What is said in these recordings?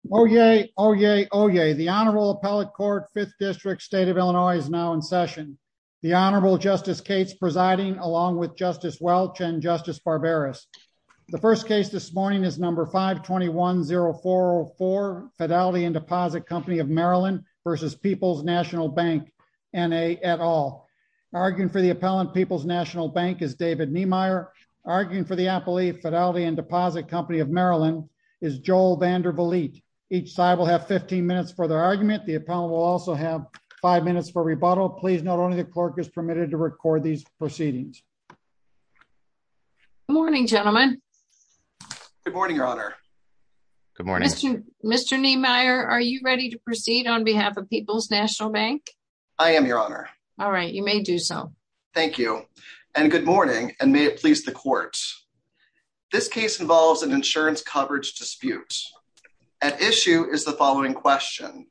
et al. Arguing for the appellant, Peoples National Bank, is David Niemeyer. Arguing for the appellee, Fidelity & Deposit Co. of Maryland is Joel Van Der Vliet. Arguing for the appellant, Peoples National Bank, is David Niemeyer. Arguing for the appellant, Peoples National Bank, is Joel Van Der Vliet. Each side will have 15 minutes for their argument. The appellant will also have 5 minutes for rebuttal. Please note only the clerk is permitted to record these proceedings. Good morning, gentlemen. Good morning, Your Honor. Good morning. Mr. Niemeyer, are you ready to proceed on behalf of Peoples National Bank? I am, Your Honor. All right, you may do so. Thank you. And good morning, and may it please the court. This case involves an insurance coverage dispute. At issue is the following question.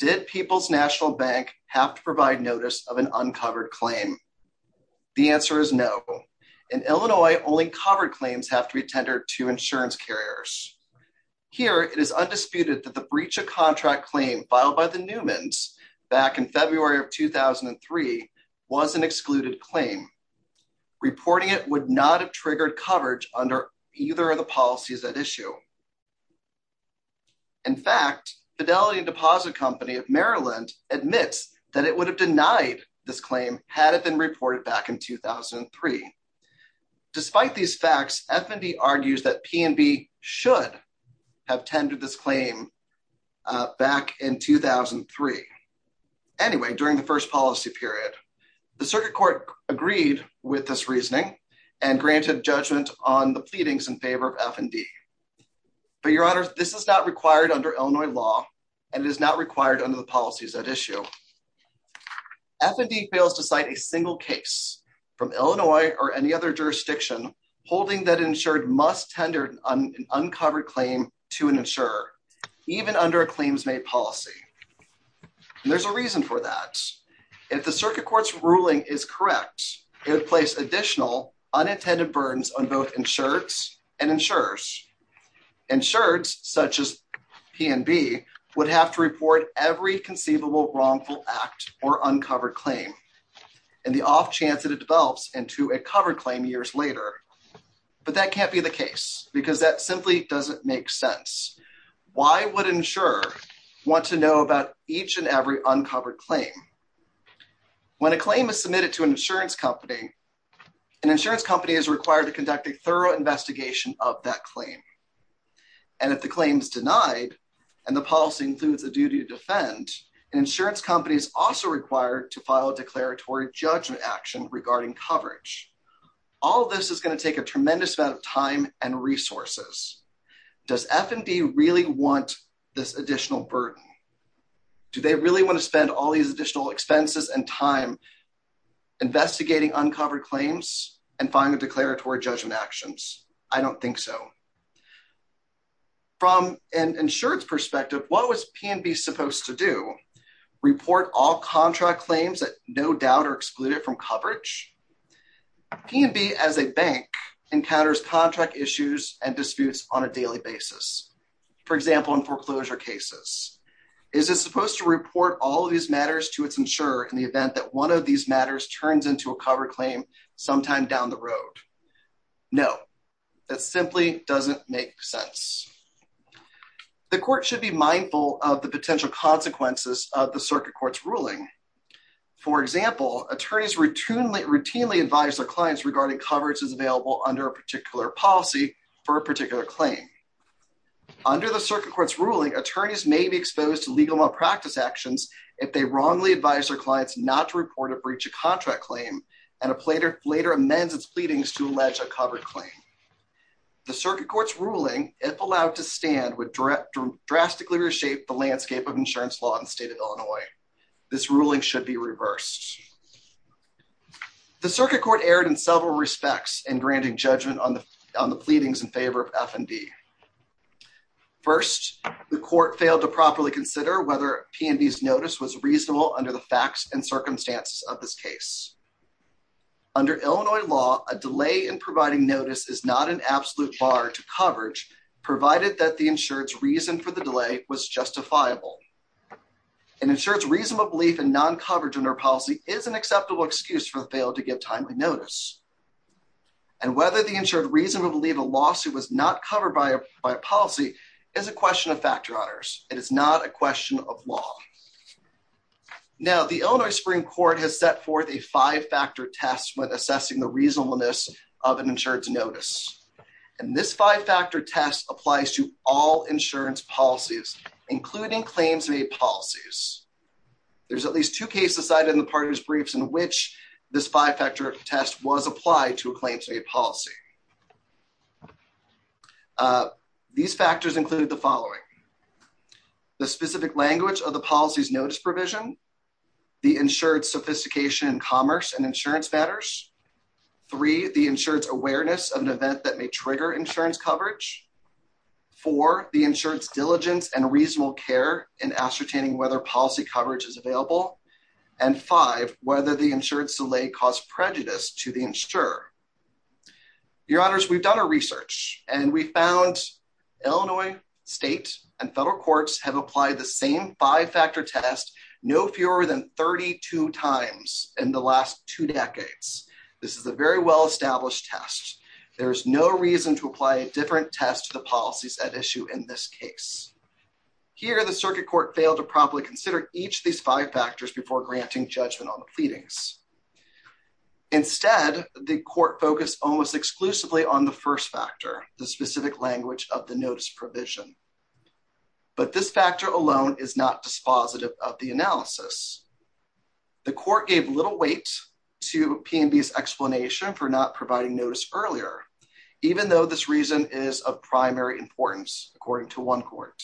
Did Peoples National Bank have to provide notice of an uncovered claim? The answer is no. In Illinois, only covered claims have to be tendered to insurance carriers. Here, it is undisputed that the breach of contract claim filed by the Newmans back in February of 2003 was an excluded claim. Reporting it would not have triggered coverage under either of the policies at issue. In fact, Fidelity and Deposit Company of Maryland admits that it would have denied this claim had it been reported back in 2003. Despite these facts, F&B argues that P&B should have tendered this claim back in 2003. Anyway, during the first policy period, the circuit court agreed with this reasoning and granted judgment on the pleadings in favor of F&B. But, Your Honor, this is not required under Illinois law, and it is not required under the policies at issue. F&B fails to cite a single case from Illinois or any other jurisdiction holding that insured must tender an uncovered claim to an insurer, even under a claims-made policy. There's a reason for that. If the circuit court's ruling is correct, it would place additional unintended burdens on both insureds and insurers. Insureds, such as P&B, would have to report every conceivable wrongful act or uncovered claim, and the off chance that it develops into a covered claim years later. But that can't be the case, because that simply doesn't make sense. Why would an insurer want to know about each and every uncovered claim? When a claim is submitted to an insurance company, an insurance company is required to conduct a thorough investigation of that claim. And if the claim is denied, and the policy includes a duty to defend, an insurance company is also required to file a declaratory judgment action regarding coverage. All of this is going to take a tremendous amount of time and resources. Does F&B really want this additional burden? Do they really want to spend all these additional expenses and time investigating uncovered claims and filing declaratory judgment actions? I don't think so. From an insured's perspective, what was P&B supposed to do? Report all contract claims that no doubt are excluded from coverage? P&B as a bank encounters contract issues and disputes on a daily basis. For example, in foreclosure cases. Is it supposed to report all these matters to its insurer in the event that one of these matters turns into a covered claim sometime down the road? No, that simply doesn't make sense. The court should be mindful of the potential consequences of the circuit court's ruling. For example, attorneys routinely advise their clients regarding coverage that is available under a particular policy for a particular claim. Under the circuit court's ruling, attorneys may be exposed to legal malpractice actions if they wrongly advise their clients not to report a breach of contract claim and later amends its pleadings to allege a covered claim. The circuit court's ruling, if allowed to stand, would drastically reshape the landscape of insurance law in the state of Illinois. This ruling should be reversed. The circuit court erred in several respects in granting judgment on the pleadings in favor of F&B. First, the court failed to properly consider whether P&B's notice was reasonable under the facts and circumstances of this case. Under Illinois law, a delay in providing notice is not an absolute bar to coverage, provided that the insured's reason for the delay was justifiable. An insured's reasonable belief in non-coverage under a policy is an acceptable excuse for the failure to give timely notice. And whether the insured reasonably believed a lawsuit was not covered by a policy is a question of factor honors. It is not a question of law. Now, the Illinois Supreme Court has set forth a five-factor test when assessing the reasonableness of an insured's notice. This five-factor test applies to all insurance policies, including claims-made policies. There are at least two cases cited in the parties' briefs in which this five-factor test was applied to a claims-made policy. These factors include the following. The specific language of the policy's notice provision. The insured's sophistication in commerce and insurance matters. Three, the insured's awareness of an event that may trigger insurance coverage. Four, the insured's diligence and reasonable care in ascertaining whether policy coverage is available. And five, whether the insured's delay caused prejudice to the insurer. Your honors, we've done our research, and we found Illinois state and federal courts have applied the same five-factor test no fewer than 32 times in the last two decades. This is a very well-established test. There is no reason to apply a different test to the policies at issue in this case. Here, the circuit court failed to properly consider each of these five factors before granting judgment on the pleadings. Instead, the court focused almost exclusively on the first factor, the specific language of the notice provision. But this factor alone is not dispositive of the analysis. The court gave little weight to P&B's explanation for not providing notice earlier, even though this reason is of primary importance, according to one court.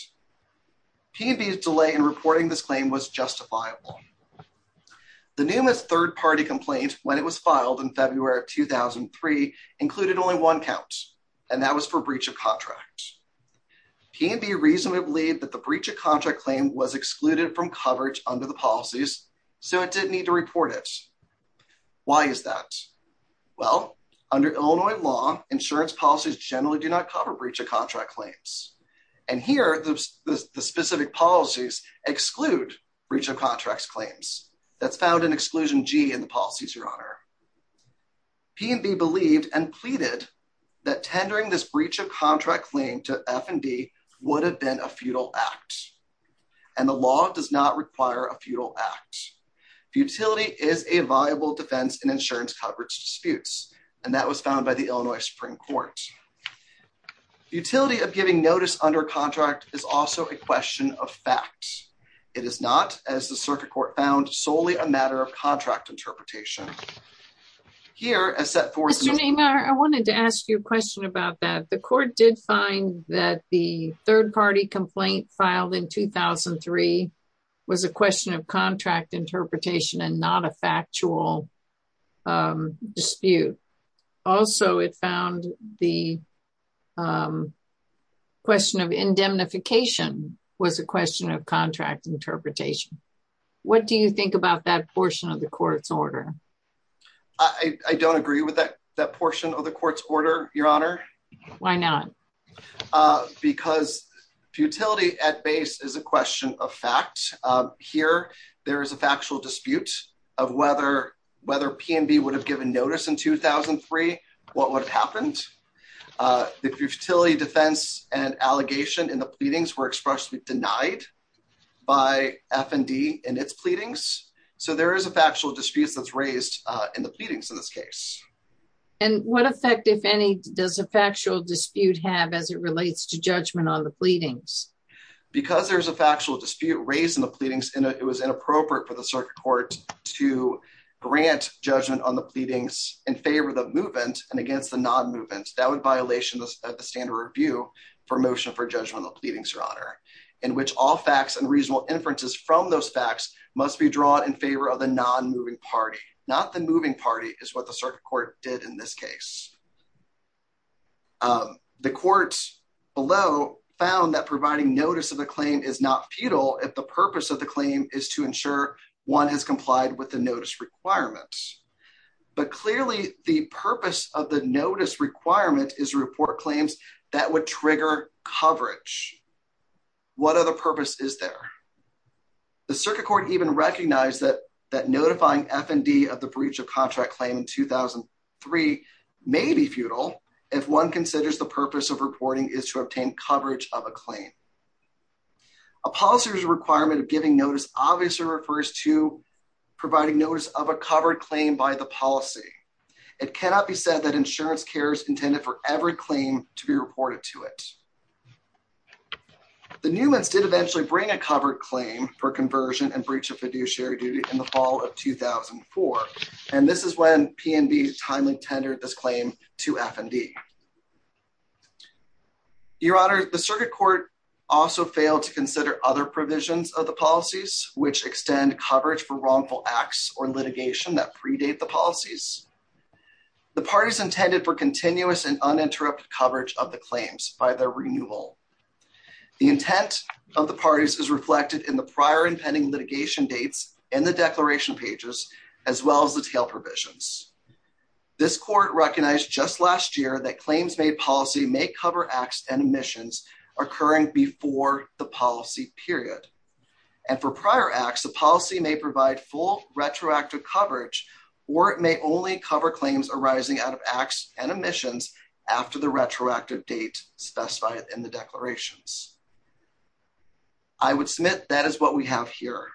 P&B's delay in reporting this claim was justifiable. The NUMAS third-party complaint, when it was filed in February of 2003, included only one count, and that was for breach of contract. P&B reasonably believed that the breach of contract claim was excluded from coverage under the policies, so it didn't need to report it. Why is that? Well, under Illinois law, insurance policies generally do not cover breach of contract claims. And here, the specific policies exclude breach of contract claims. That's found in Exclusion G in the policies, Your Honor. P&B believed and pleaded that tendering this breach of contract claim to F&D would have been a futile act, and the law does not require a futile act. Futility is a viable defense in insurance coverage disputes, and that was found by the Illinois Supreme Court. The utility of giving notice under contract is also a question of fact. It is not, as the circuit court found, solely a matter of contract interpretation. Your Honor, I wanted to ask you a question about that. The court did find that the third-party complaint filed in 2003 was a question of contract interpretation and not a factual dispute. Also, it found the question of indemnification was a question of contract interpretation. What do you think about that portion of the court's order? I don't agree with that portion of the court's order, Your Honor. Why not? Because futility at base is a question of fact. Here, there is a factual dispute of whether P&B would have given notice in 2003. What would have happened? The futility defense and allegation in the pleadings were expressly denied by F&D in its pleadings, so there is a factual dispute that is raised in the pleadings in this case. What effect, if any, does a factual dispute have as it relates to judgment on the pleadings? Because there is a factual dispute raised in the pleadings, it was inappropriate for the circuit court to grant judgment on the pleadings in favor of the movement and against the non-movement. That would violate the standard review for motion for judgment on the pleadings, Your Honor, in which all facts and reasonable inferences from those facts must be drawn in favor of the non-moving party. Not the moving party is what the circuit court did in this case. The court below found that providing notice of a claim is not futile if the purpose of the claim is to ensure one has complied with the notice requirements. But clearly, the purpose of the notice requirement is to report claims that would trigger coverage. What other purpose is there? The circuit court even recognized that notifying F&D of the breach of contract claim in 2003 may be futile if one considers the purpose of reporting is to obtain coverage of a claim. A policy requirement of giving notice obviously refers to providing notice of a covered claim by the policy. It cannot be said that insurance care is intended for every claim to be reported to it. The Newmans did eventually bring a covered claim for conversion and breach of fiduciary duty in the fall of 2004, and this is when P&B timely tendered this claim to F&D. Your Honor, the circuit court also failed to consider other provisions of the policies which extend coverage for wrongful acts or litigation that predate the policies. The parties intended for continuous and uninterrupted coverage of the claims by their renewal. The intent of the parties is reflected in the prior impending litigation dates and the declaration pages, as well as the tail provisions. This court recognized just last year that claims made policy may cover acts and omissions occurring before the policy period. And for prior acts, the policy may provide full retroactive coverage, or it may only cover claims arising out of acts and omissions after the retroactive date specified in the declarations. I would submit that is what we have here.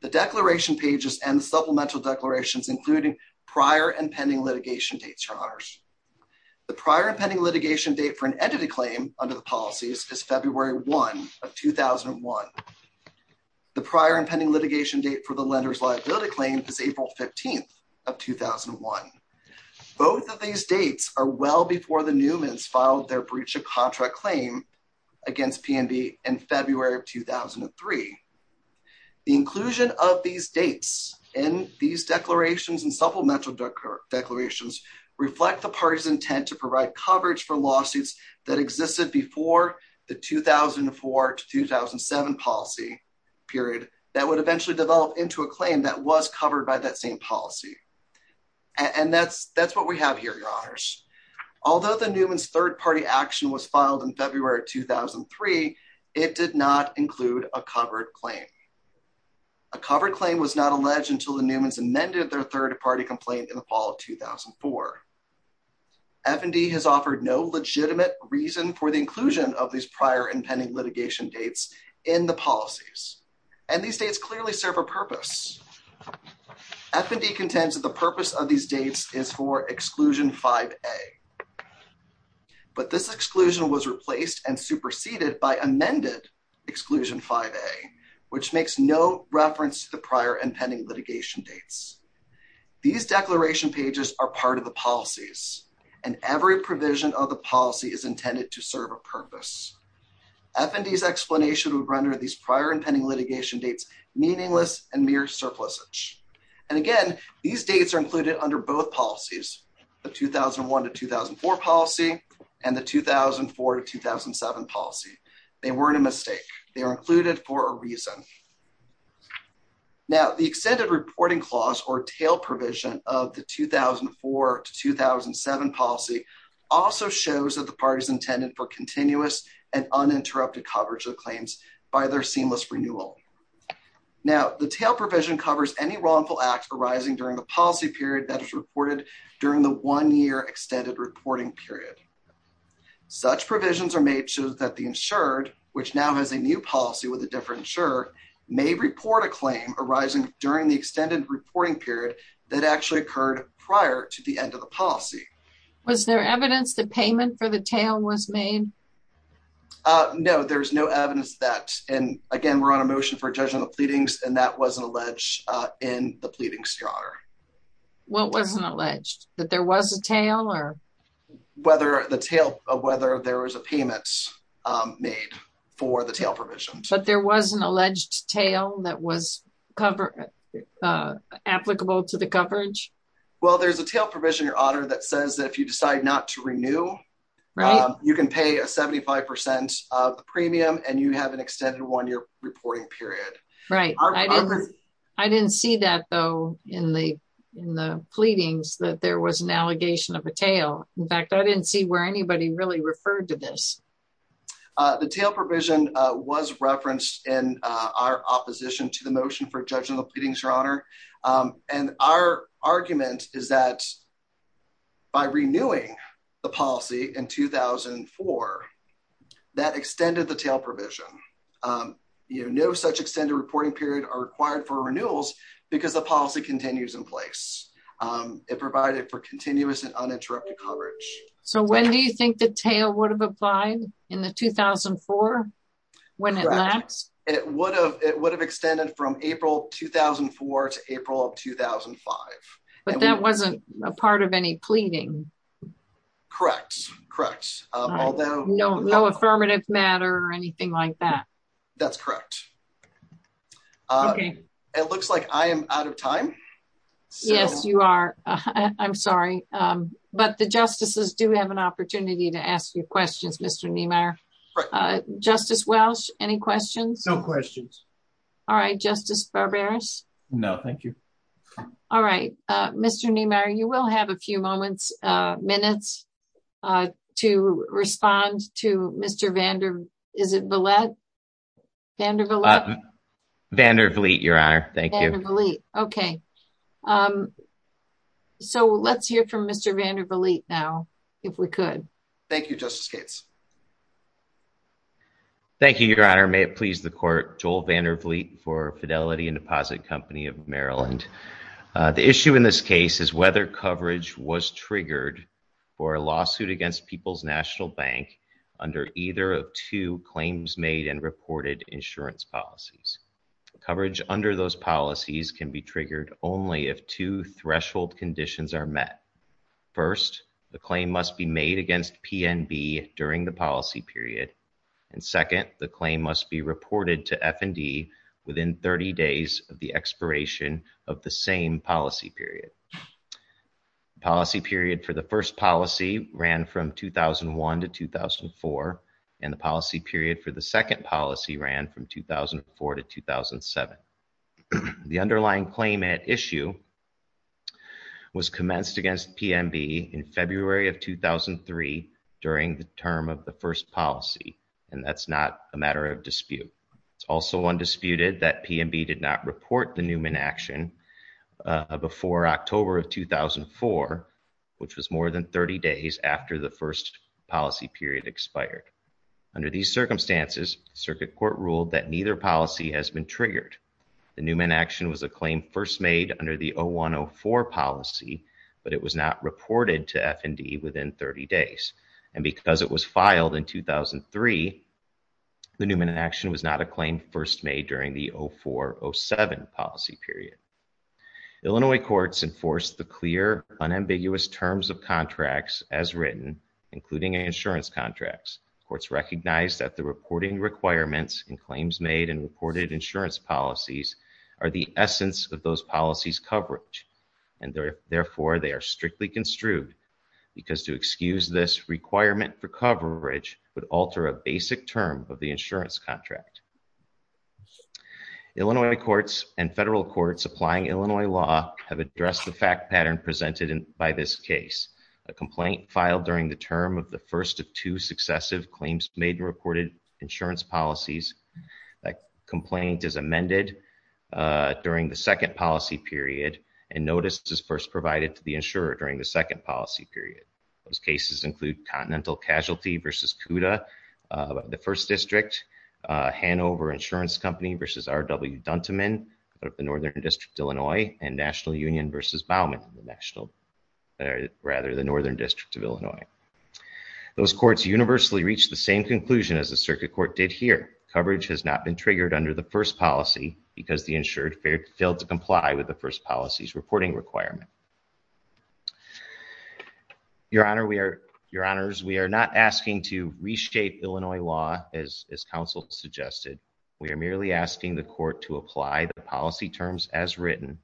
The declaration pages and supplemental declarations, including prior and pending litigation dates, Your Honors. The prior impending litigation date for an entity claim under the policies is February 1 of 2001. The prior impending litigation date for the lender's liability claim is April 15 of 2001. Both of these dates are well before the Newmans filed their breach of contract claim against P&B in February of 2003. The inclusion of these dates in these declarations and supplemental declarations reflect the parties intent to provide coverage for lawsuits that existed before the 2004 to 2007 policy period that would eventually develop into a claim that was covered by that same policy. And that's what we have here, Your Honors. Although the Newmans' third-party action was filed in February of 2003, it did not include a covered claim. A covered claim was not alleged until the Newmans amended their third-party complaint in the fall of 2004. F&D has offered no legitimate reason for the inclusion of these prior impending litigation dates in the policies. And these dates clearly serve a purpose. F&D contends that the purpose of these dates is for Exclusion 5A. But this exclusion was replaced and superseded by amended Exclusion 5A, which makes no reference to the prior impending litigation dates. These declaration pages are part of the policies, and every provision of the policy is intended to serve a purpose. F&D's explanation would render these prior impending litigation dates meaningless and mere surplusage. And again, these dates are included under both policies, the 2001 to 2004 policy and the 2004 to 2007 policy. They weren't a mistake. They are included for a reason. Now, the Extended Reporting Clause, or TAIL provision of the 2004 to 2007 policy, also shows that the parties intended for continuous and uninterrupted coverage of claims by their seamless renewal. Now, the TAIL provision covers any wrongful act arising during the policy period that is reported during the one-year extended reporting period. Such provisions are made so that the insured, which now has a new policy with a different insurer, may report a claim arising during the extended reporting period that actually occurred prior to the end of the policy. Was there evidence that payment for the TAIL was made? No, there's no evidence of that. And again, we're on a motion for a judgment of pleadings, and that wasn't alleged in the pleading strata. What wasn't alleged? That there was a TAIL? Whether there was a payment made for the TAIL provision. But there was an alleged TAIL that was applicable to the coverage? Well, there's a TAIL provision, Your Honor, that says that if you decide not to renew, you can pay a 75% premium and you have an extended one-year reporting period. I didn't see that, though, in the pleadings, that there was an allegation of a TAIL. In fact, I didn't see where anybody really referred to this. The TAIL provision was referenced in our opposition to the motion for judgment of pleadings, Your Honor. And our argument is that by renewing the policy in 2004, that extended the TAIL provision. No such extended reporting period are required for renewals because the policy continues in place. It provided for continuous and uninterrupted coverage. So when do you think the TAIL would have applied? In 2004? Correct. And it would have extended from April 2004 to April 2005. But that wasn't a part of any pleading? Correct. No affirmative matter or anything like that? That's correct. It looks like I am out of time. Yes, you are. I'm sorry. But the justices do have an opportunity to ask you questions, Mr. Niemeyer. Justice Welch, any questions? No questions. All right. Justice Barberis? No, thank you. All right. Mr. Niemeyer, you will have a few moments, minutes to respond to Mr. Vandervliet. Vandervliet, Your Honor. Thank you. Okay. So let's hear from Mr. Vandervliet now, if we could. Thank you, Justice Gates. Thank you, Your Honor. May it please the court, Joel Vandervliet for Fidelity and Deposit Company of Maryland. The issue in this case is whether coverage was triggered for a lawsuit against People's National Bank under either of two claims made and reported insurance policies. Coverage under those policies can be triggered only if two threshold conditions are met. First, the claim must be made against PNB during the policy period. And second, the claim must be reported to F&D within 30 days of the expiration of the same policy period. Policy period for the first policy ran from 2001 to 2004, and the policy period for the second policy ran from 2004 to 2007. The underlying claim at issue was commenced against PNB in February of 2003 during the term of the first policy, and that's not a matter of dispute. It's also undisputed that PNB did not report the Newman action before October of 2004, which was more than 30 days after the first policy period expired. Under these circumstances, circuit court ruled that neither policy has been triggered. The Newman action was a claim first made under the 01-04 policy, but it was not reported to F&D within 30 days. And because it was filed in 2003, the Newman action was not a claim first made during the 04-07 policy period. Illinois courts enforced the clear, unambiguous terms of contracts as written, including insurance contracts. Courts recognized that the reporting requirements in claims made in reported insurance policies are the essence of those policies' coverage. And therefore, they are strictly construed, because to excuse this requirement for coverage would alter a basic term of the insurance contract. Illinois courts and federal courts applying Illinois law have addressed the fact pattern presented by this case. A complaint filed during the term of the first of two successive claims made in reported insurance policies, that complaint is amended during the second policy period, and notice is first provided to the insurer during the second policy period. Those cases include Continental Casualty v. Cuda of the 1st District, Hanover Insurance Company v. R.W. Duntiman of the Northern District of Illinois, and National Union v. Baumann of the Northern District of Illinois. Those courts universally reached the same conclusion as the circuit court did here. Coverage has not been triggered under the first policy, because the insured failed to comply with the first policy's reporting requirement. Your Honor, we are not asking to reshape Illinois law as counsel suggested. We are merely asking the court to apply the policy terms as written,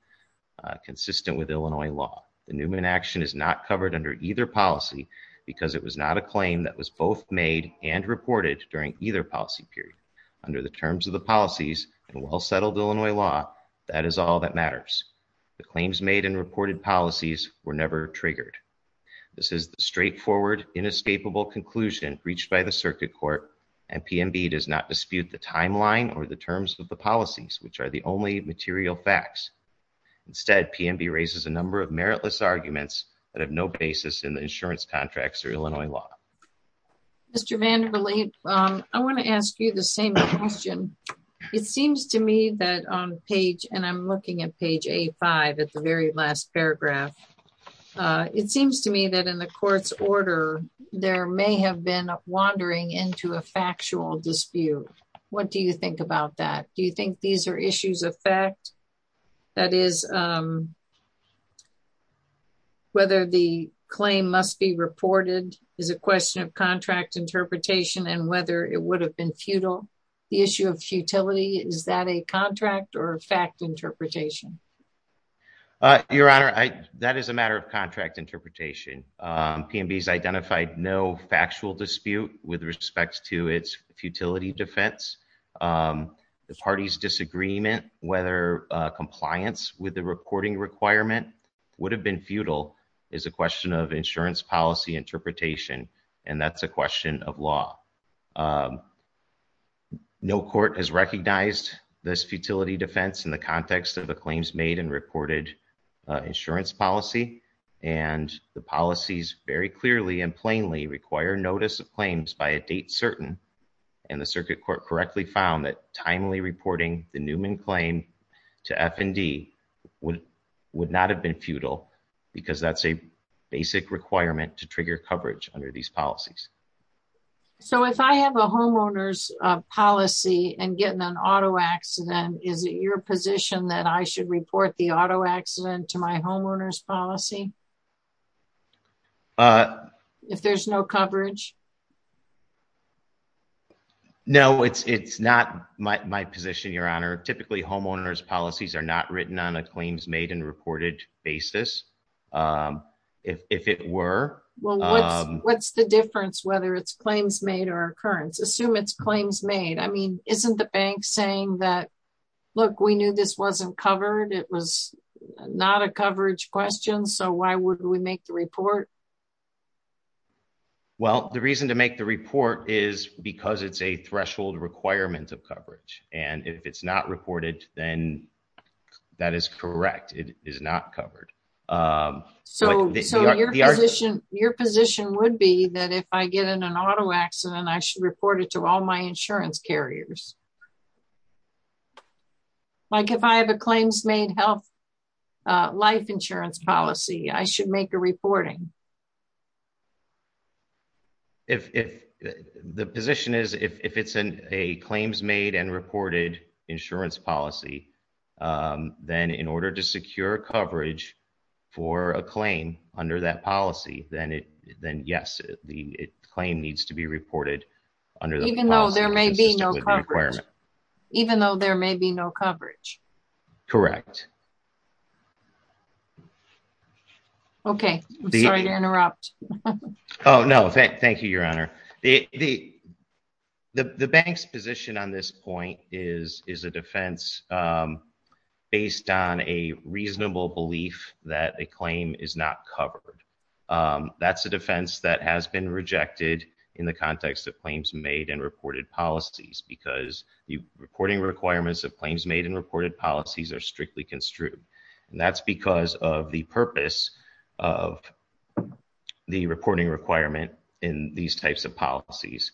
consistent with Illinois law. The Newman action is not covered under either policy, because it was not a claim that was both made and reported during either policy period. Under the terms of the policies and well-settled Illinois law, that is all that matters. The claims made and reported policies were never triggered. This is the straightforward, inescapable conclusion reached by the circuit court, and PMB does not dispute the timeline or the terms of the policies, which are the only material facts. Instead, PMB raises a number of meritless arguments that have no basis in the insurance contracts or Illinois law. Mr. Vander Lee, I want to ask you the same question. It seems to me that on page, and I'm looking at page A5 at the very last paragraph, it seems to me that in the court's order, there may have been a wandering into a factual dispute. What do you think about that? Do you think these are issues of fact? That is, whether the claim must be reported is a question of contract interpretation and whether it would have been futile. The issue of futility, is that a contract or fact interpretation? Your Honor, that is a matter of contract interpretation. PMB has identified no factual dispute with respect to its futility defense. The party's disagreement, whether compliance with the reporting requirement would have been futile, is a question of insurance policy interpretation, and that's a question of law. No court has recognized this futility defense in the context of the claims made and reported insurance policy, and the policies very clearly and plainly require notice of claims by a date certain, and the circuit court correctly found that timely reporting the Newman claim to F&D would not have been futile, because that's a basic requirement to trigger coverage under these policies. So, if I have a homeowner's policy and get in an auto accident, is it your position that I should report the auto accident to my homeowner's policy? If there's no coverage? No, it's not my position, Your Honor. Typically, homeowner's policies are not written on a claims made and reported basis, if it were. Well, what's the difference whether it's claims made or occurrence? Assume it's claims made. I mean, isn't the bank saying that, look, we knew this wasn't covered, it was not a coverage question, so why would we make the report? Well, the reason to make the report is because it's a threshold requirement of coverage, and if it's not reported, then that is correct, it is not covered. So, your position would be that if I get in an auto accident, I should report it to all my insurance carriers? Like, if I have a claims made health life insurance policy, I should make a reporting? The position is, if it's a claims made and reported insurance policy, then in order to secure coverage for a claim under that policy, then yes, the claim needs to be reported. Even though there may be no coverage? Correct. Okay, I'm sorry to interrupt. The bank's position on this point is a defense based on a reasonable belief that a claim is not covered. That's a defense that has been rejected in the context of claims made and reported policies because the reporting requirements of claims made and reported policies are strictly construed. And that's because of the purpose of the reporting requirement in these types of policies.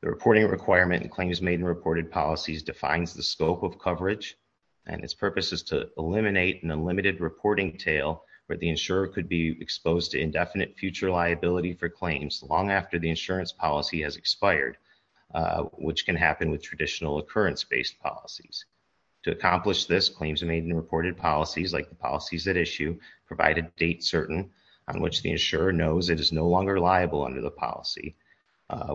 The reporting requirement in claims made and reported policies defines the scope of coverage, and its purpose is to eliminate an unlimited reporting tail, where the insurer could be exposed to indefinite future liability for claims long after the insurance policy has expired, which can happen with traditional occurrence based policies. To accomplish this, claims made and reported policies, like the policies at issue, provide a date certain on which the insurer knows it is no longer liable under the policy,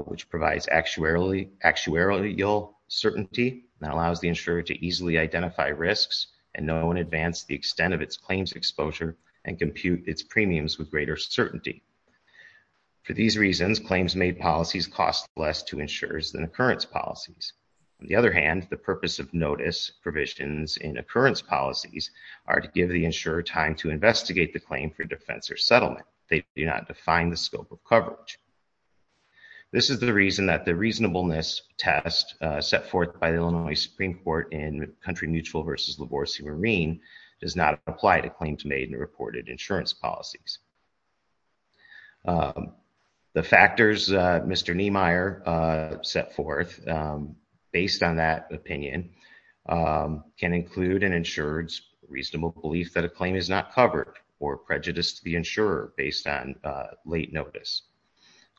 which provides actuarial certainty that allows the insurer to easily identify risks and know in advance the extent of its claims exposure and compute its premiums with greater certainty. For these reasons, claims made policies cost less to insurers than occurrence policies. On the other hand, the purpose of notice provisions in occurrence policies are to give the insurer time to investigate the claim for defense or settlement. They do not define the scope of coverage. This is the reason that the reasonableness test set forth by the Illinois Supreme Court in Country Mutual versus LaVorse Marine does not apply to claims made and reported insurance policies. The factors Mr. Niemeyer set forth, based on that opinion, can include an insurer's reasonable belief that a claim is not covered or prejudice to the insurer based on late notice.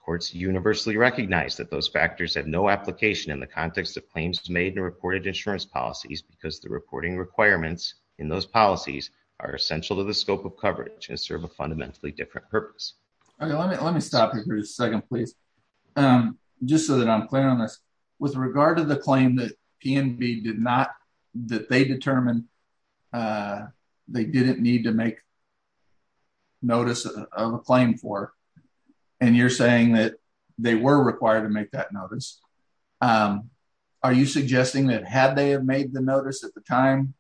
Courts universally recognize that those factors have no application in the context of claims made and reported insurance policies because the reporting requirements in those policies are essential to the scope of coverage and serve a fundamentally different purpose. Let me stop you for a second, please, just so that I'm clear on this. With regard to the claim that PNB did not, that they determined they didn't need to make notice of a claim for, and you're saying that they were required to make that notice, are you suggesting that had they have made the notice at the time,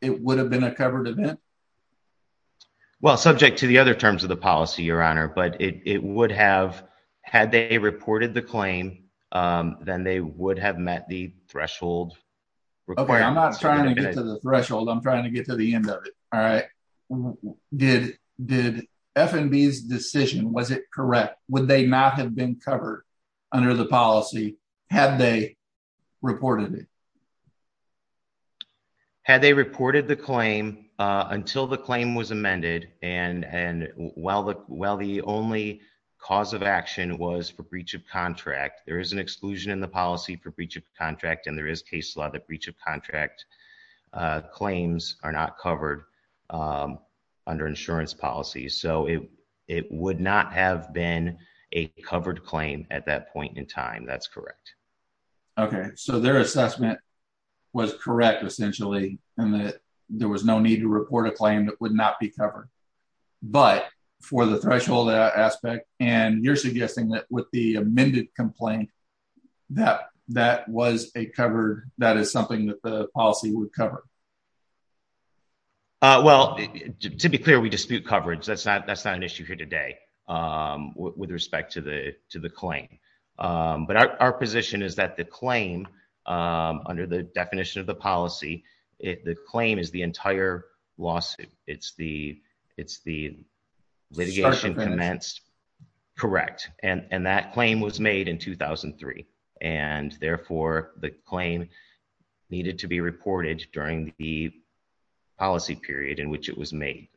it would have been a covered event? Well, subject to the other terms of the policy, Your Honor, but it would have, had they reported the claim, then they would have met the threshold. Okay, I'm not trying to get to the threshold, I'm trying to get to the end of it. All right. Did FNB's decision, was it correct, would they not have been covered under the policy had they reported it? Had they reported the claim until the claim was amended, and while the only cause of action was for breach of contract, there is an exclusion in the policy for breach of contract, and there is case law that breach of contract claims are not covered under insurance policies. So it would not have been a covered claim at that point in time. That's correct. Okay. So their assessment was correct, essentially, in that there was no need to report a claim that would not be covered. But for the threshold aspect, and you're suggesting that with the amended complaint, that was a covered, that is something that the policy would cover? Well, to be clear, we dispute coverage. That's not an issue here today with respect to the claim. But our position is that the claim, under the definition of the policy, the claim is the entire lawsuit. It's the litigation commenced. Correct. And that claim was made in 2003, and therefore the claim needed to be reported during the policy period in which it was made,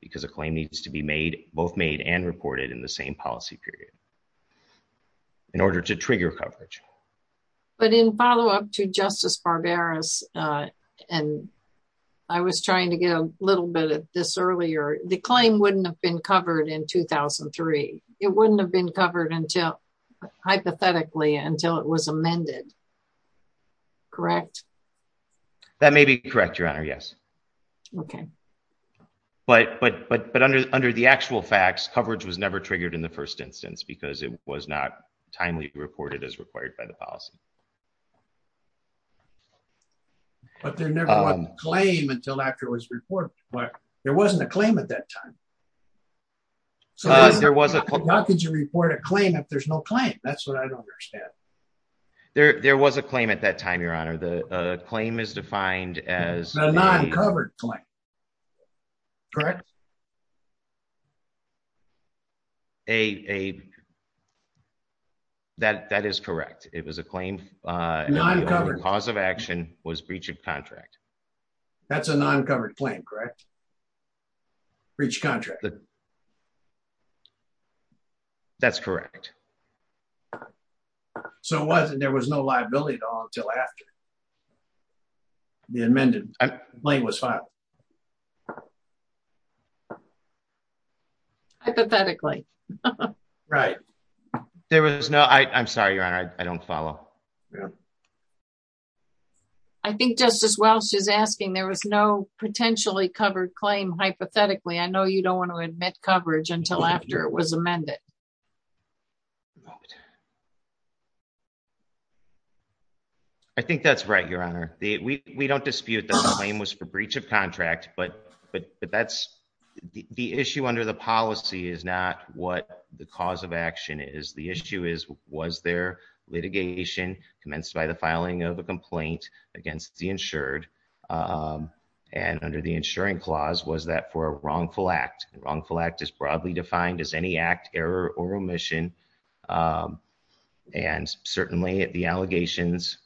because a claim needs to be both made and reported in the same policy period. In order to trigger coverage. But in follow-up to Justice Barberas, and I was trying to get a little bit of this earlier, the claim wouldn't have been covered in 2003. It wouldn't have been covered until, hypothetically, until it was amended. Correct? That may be correct, Your Honor, yes. Okay. But under the actual facts, coverage was never triggered in the first instance, because it was not timely reported as required by the policy. But there never was a claim until after it was reported. There wasn't a claim at that time. So how could you report a claim if there's no claim? That's what I don't understand. There was a claim at that time, Your Honor. The claim is defined as... A non-covered claim. Correct? A... That is correct. It was a claim... Non-covered. The cause of action was breach of contract. That's a non-covered claim, correct? Breach of contract. That's correct. So there was no liability until after the amended claim was filed. Hypothetically. Right. There was no... I'm sorry, Your Honor. I don't follow. I think Justice Welch is asking there was no potentially covered claim hypothetically. I know you don't want to admit coverage until after it was amended. I think that's right, Your Honor. We don't dispute that the claim was for breach of contract. But that's... The issue under the policy is not what the cause of action is. The issue is, was there litigation commenced by the filing of a complaint against the insured? And under the insuring clause, was that for a wrongful act? A wrongful act is broadly defined as any act, error, or remission. And certainly the allegations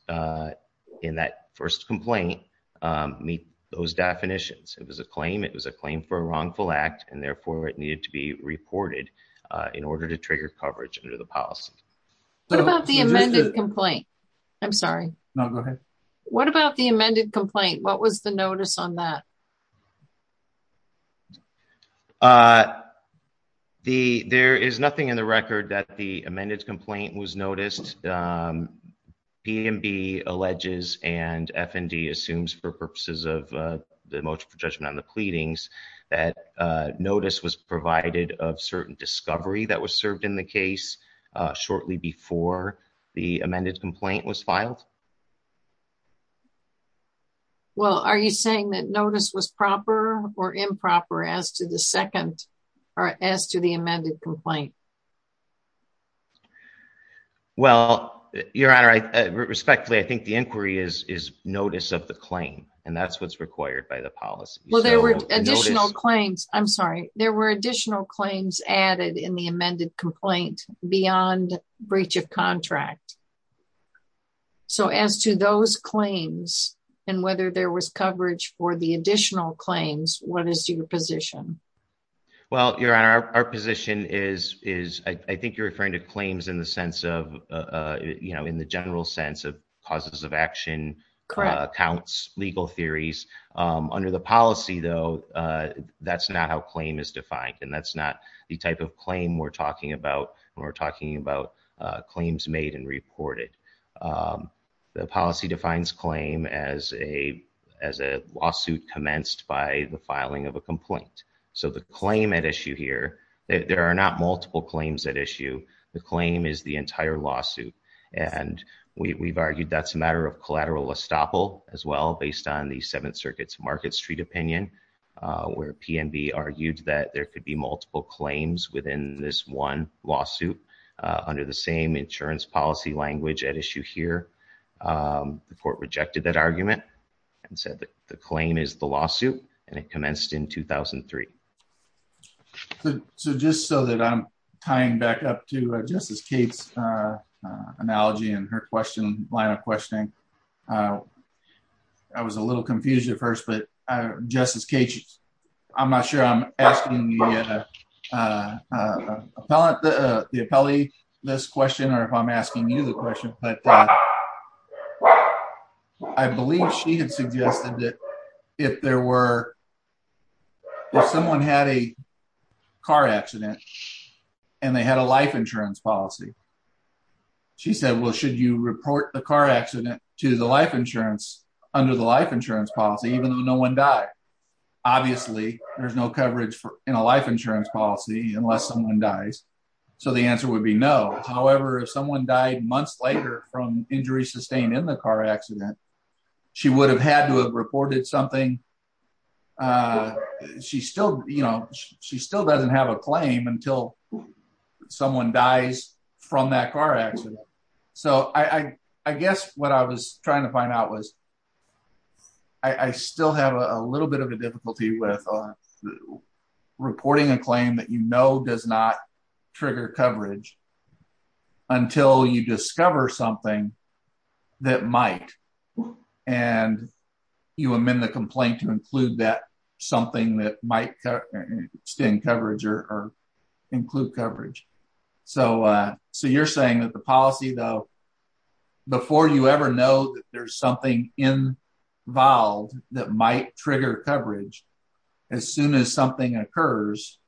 in that first complaint don't meet those definitions. It was a claim. It was a claim for a wrongful act, and therefore it needed to be reported in order to trigger coverage under the policy. What about the amended complaint? I'm sorry. No, go ahead. What about the amended complaint? What was the notice on that? There is nothing in the record that the amended complaint was noticed. P&B alleges and F&D assumes for purposes of the motion for judgment on the pleadings that notice was provided of certain discovery that was served in the case shortly before the amended complaint was filed. Well, are you saying that notice was proper or improper as to the second, or as to the amended complaint? Well, Your Honor, respectfully, I think the inquiry is notice of the claim, and that's what's required by the policy. Well, there were additional claims. I'm sorry. There were additional claims added in the amended complaint beyond breach of contract. So as to those claims and whether there was coverage for the additional claims, what is your position? Well, Your Honor, our position is, I think you're referring to claims in the general sense of litigation, accounts, legal theories. Under the policy, though, that's not how claim is defined, and that's not the type of claim we're talking about when we're talking about claims made and reported. The policy defines claim as a lawsuit commenced by the filing of a complaint. So the claim at issue here, there are not multiple claims at issue. The claim is the entire lawsuit, and we've argued for a listopel as well based on the Seventh Circuit's Market Street opinion where PNB argued that there could be multiple claims within this one lawsuit under the same insurance policy language at issue here. The court rejected that argument and said the claim is the lawsuit, and it commenced in 2003. So just so that I'm tying back up to Justice Kate's analogy and her question, I was a little confused at first, but Justice Kate, I'm not sure I'm asking the appellee this question or if I'm asking you the question, but I believe she had suggested that if someone had a car accident and they had a life insurance policy, she said, well, should you report the car accident under the life insurance policy even though no one died? Obviously, there's no coverage in a life insurance policy unless someone dies, so the answer would be no. However, if someone died months later from injuries sustained in the car accident, she would have had to have reported something. She still doesn't have a claim until someone dies from that car accident. So I guess what I was trying to find out was I still have a little bit of a difficulty with reporting a claim that you know does not trigger coverage until you discover something that might, and you amend the complaint to include that something that might extend coverage or include coverage. So you're saying that the policy, though, before you ever know that there's something involved that might trigger coverage, as soon as something occurs,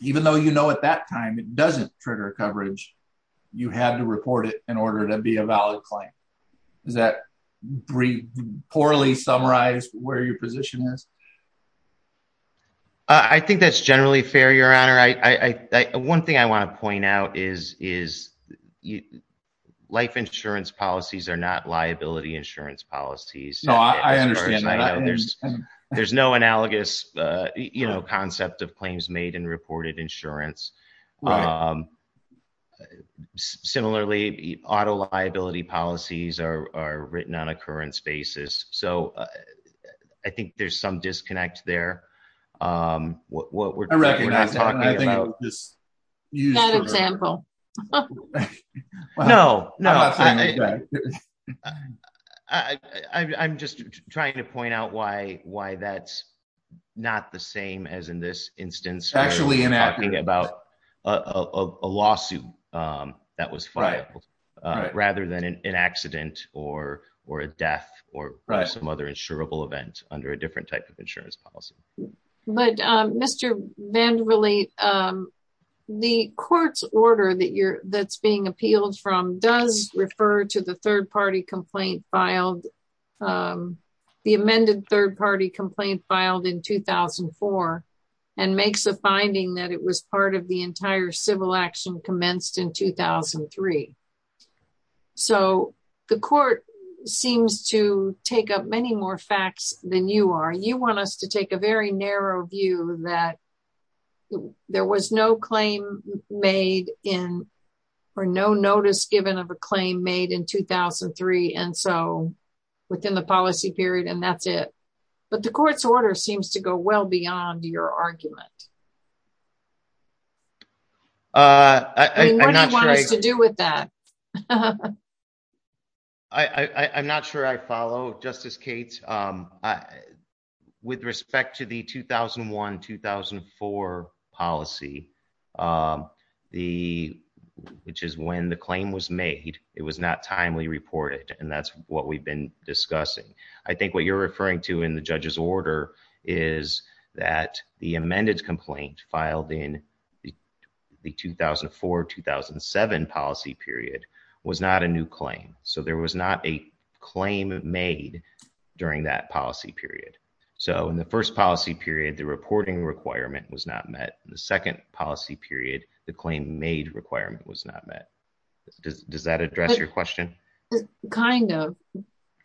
even though you know at that time it doesn't trigger coverage, you have to report it in order to be a valid claim. Does that poorly summarize where your position is? I think that's generally fair, Your Honor. Your Honor, one thing I want to point out is life insurance policies are not liability insurance policies. No, I understand that. There's no analogous concept of claims made in reported insurance. Similarly, auto liability policies are written on a occurrence basis. So I think there's some disconnect there. I recognize that, and I think I'll just use that example. No, no. I'm just trying to point out why that's not the same as in this instance talking about a lawsuit that was filed rather than an accident or a death or some other insurable event under a different type of insurance policy. But, Mr. Vanderleet, the court's order that's being appealed from does refer to the third-party complaint filed, the amended third-party complaint filed in 2004 and makes a finding that it was part of the entire civil action commenced in 2003. So the court seems to take up many more facts than you are. You want us to take a very narrow view that there was no claim made in or no notice given of a claim made in 2003 and so within the policy period, and that's it. But the court's order seems to go well beyond your argument. What do you want us to do with that? I'm not sure I follow, Justice Kagan. With respect to the 2001-2004 policy, which is when the claim was made, it was not timely reported, and that's what we've been discussing. I think what you're referring to in the judge's order is that the amended complaint filed in the 2004-2007 policy period was not a new claim. So there was not a claim made during that policy period. So in the first policy period, the reporting requirement was not met. In the second policy period, the claim made requirement was not met. Does that address your question? Kind of.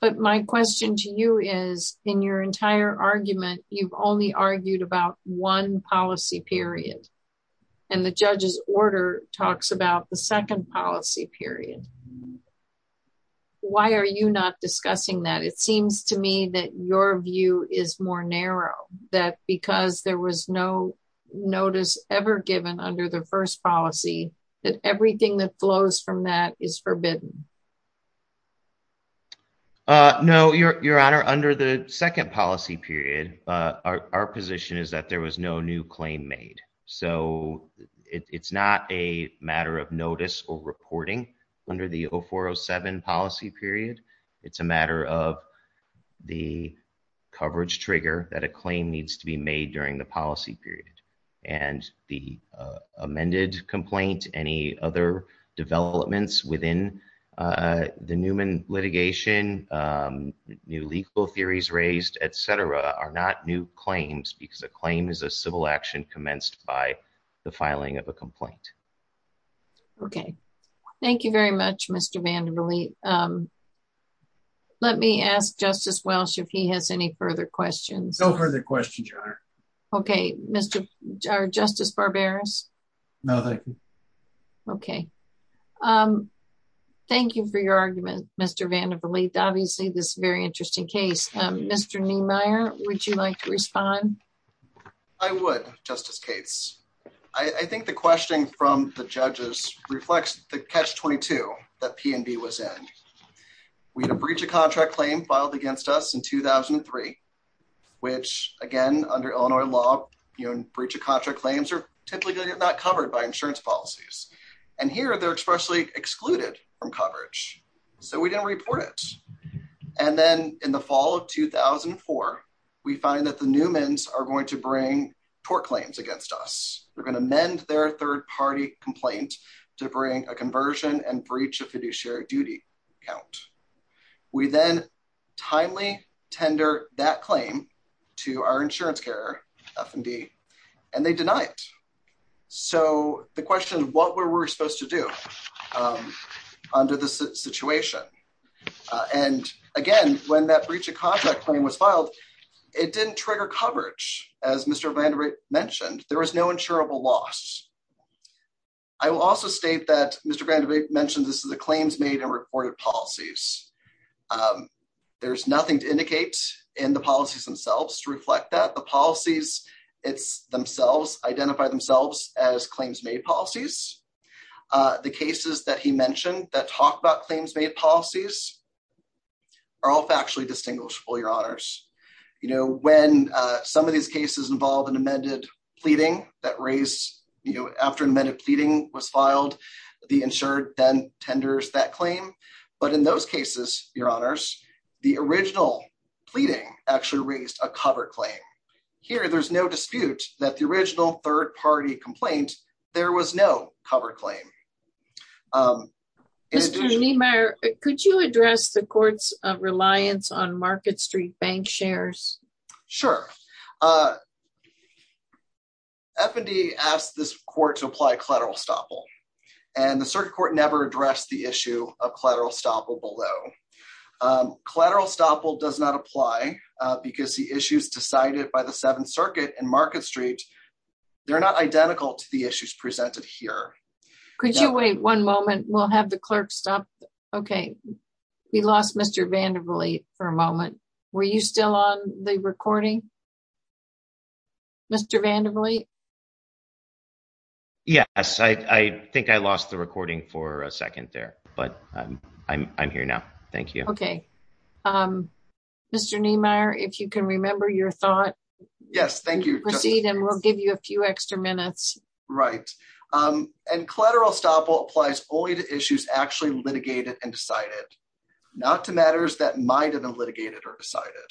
But my question to you is, in your entire argument, you've only argued about one policy period, and the judge's order talks about the second policy period. Why are you not discussing that? It seems to me that your view is more narrow, that because there was no notice ever given under the first policy, that everything that flows from that is forbidden. No, Your Honor. Under the second policy period, our position is that there was no new claim made. So it's not a matter of notice or reporting. Under the 2004-2007 policy period, it's a matter of the coverage trigger that a claim needs to be made during the policy period. And the amended complaint, any other developments within the Newman litigation, new legal theories raised, et cetera, are not new claims, commenced by the filing of a complaint. Okay. Thank you very much, Mr. Vandervliet. Let me ask Justice Welsh if he has any further questions. No further questions, Your Honor. Okay. Justice Barberis? No, thank you. Okay. Thank you for your argument, Mr. Vandervliet. Obviously, this is a very interesting case. Mr. Niemeyer, would you like to respond? I would, Justice Cates. I think the question from the judges reflects the catch-22 that P&B was in. We had a breach of contract claim filed against us in 2003, which, again, under Illinois law, breach of contract claims are typically not covered by insurance policies. And here, they're expressly excluded from coverage. So we didn't report it. And then in the fall of 2004, we find that the Newmans are going to bring tort claims against us. They're going to amend their third-party complaint to bring a conversion and breach of fiduciary duty count. We then timely tender that claim to our insurance carrier, F&D, and they deny it. So the question is, what were we supposed to do under this situation? And, again, when that breach of contract claim was filed, it didn't trigger coverage, as Mr. VanderWijk mentioned. There was no insurable loss. I will also state that Mr. VanderWijk mentioned this is a claims-made and reported policies. There's nothing to indicate in the policies themselves to reflect that. The policies themselves identify themselves as claims-made policies. The cases that he mentioned that talk about claims-made policies are all factually distinguishable, Your Honors. You know, when some of these cases involve an amended pleading that raised, you know, after an amended pleading was filed, the insured then tenders that claim. But in those cases, Your Honors, the original pleading actually raised a cover claim. Here, there's no dispute that the original third-party complaint, there was no cover claim. Mr. Niemeyer, could you address the court's reliance on Market Street bank shares? Sure. F&D asked this court to apply collateral estoppel, and the circuit court never addressed the issue of collateral estoppel below. Collateral estoppel does not apply because the issues decided by the Seventh Circuit and Market Street, they're not identical to the issues presented here. Could you wait one moment? We'll have the clerk stop. We lost Mr. Vandervliet for a moment. Were you still on the recording? Mr. Vandervliet? Yes, I think I lost the recording for a second there, but I'm here now. Thank you. Mr. Niemeyer, if you can remember your thought. Yes, thank you. Proceed, and we'll give you a few extra minutes. Right. And collateral estoppel applies only to issues actually litigated and decided. Not to matters that might have been litigated or decided.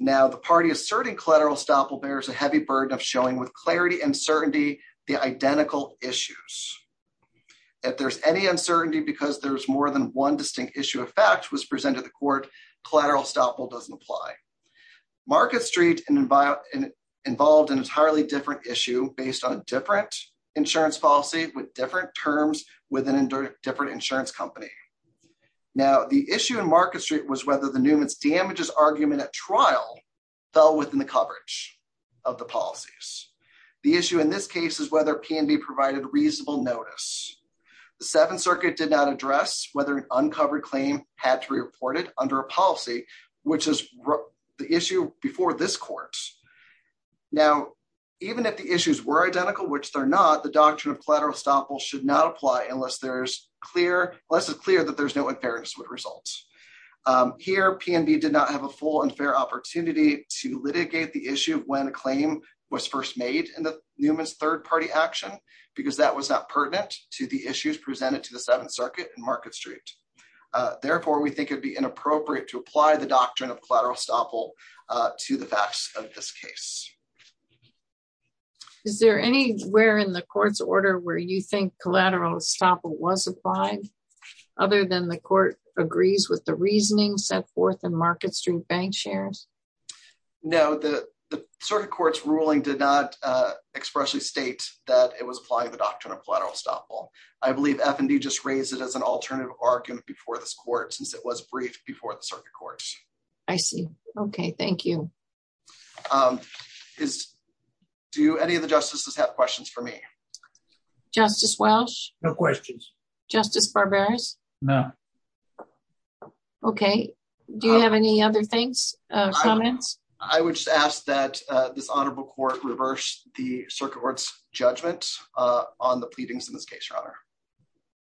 Now, the party asserting collateral estoppel bears a heavy burden of showing with clarity and certainty the identical issues. If there's any uncertainty because there's more than one distinct issue of fact was presented to the court, collateral estoppel doesn't apply. Market Street involved an entirely different issue based on a different insurance policy with different terms with a different insurance company. Now, the issue in Market Street was whether the Newman's damages argument at trial fell within the coverage of the policies. The issue in this case is whether P&B provided reasonable notice. The Seventh Circuit did not address whether an uncovered claim had to be reported under a policy, which is the issue before this court. Now, even if the issues were identical, which they're not, the doctrine of collateral estoppel should not apply unless it's clear that there's no unfairness with results. Here, P&B did not have a full and fair opportunity to litigate the issue when a claim was first made in the Newman's third-party action because that was not pertinent to the issues presented to the Seventh Circuit and Market Street. Therefore, we think it'd be inappropriate to apply the doctrine of collateral estoppel to the facts of this case. Is there anywhere in the court's order where you think collateral estoppel was applied other than the court agrees with the reasoning set forth in Market Street bank shares? No, the Circuit Court's ruling did not expressly state that it was applying the doctrine of collateral estoppel. I believe F&D just raised it as an alternative argument before this court since it was briefed before the Circuit Court. I see. Okay, thank you. Do any of the justices have questions for me? Justice Welch? No questions. Justice Barberis? No. Okay, do you have any other comments? I would just ask that this honorable court reverse the Circuit Court's judgment on the pleadings in this case, Your Honor.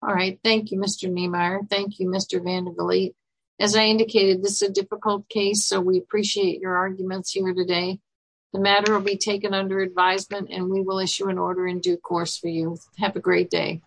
All right, thank you, Mr. Nehmeyer. Thank you, Mr. Vanderbilt. As I indicated, this is a difficult case, so we appreciate your arguments here today. The matter will be taken under advisement and we will issue an order in due course Have a great day.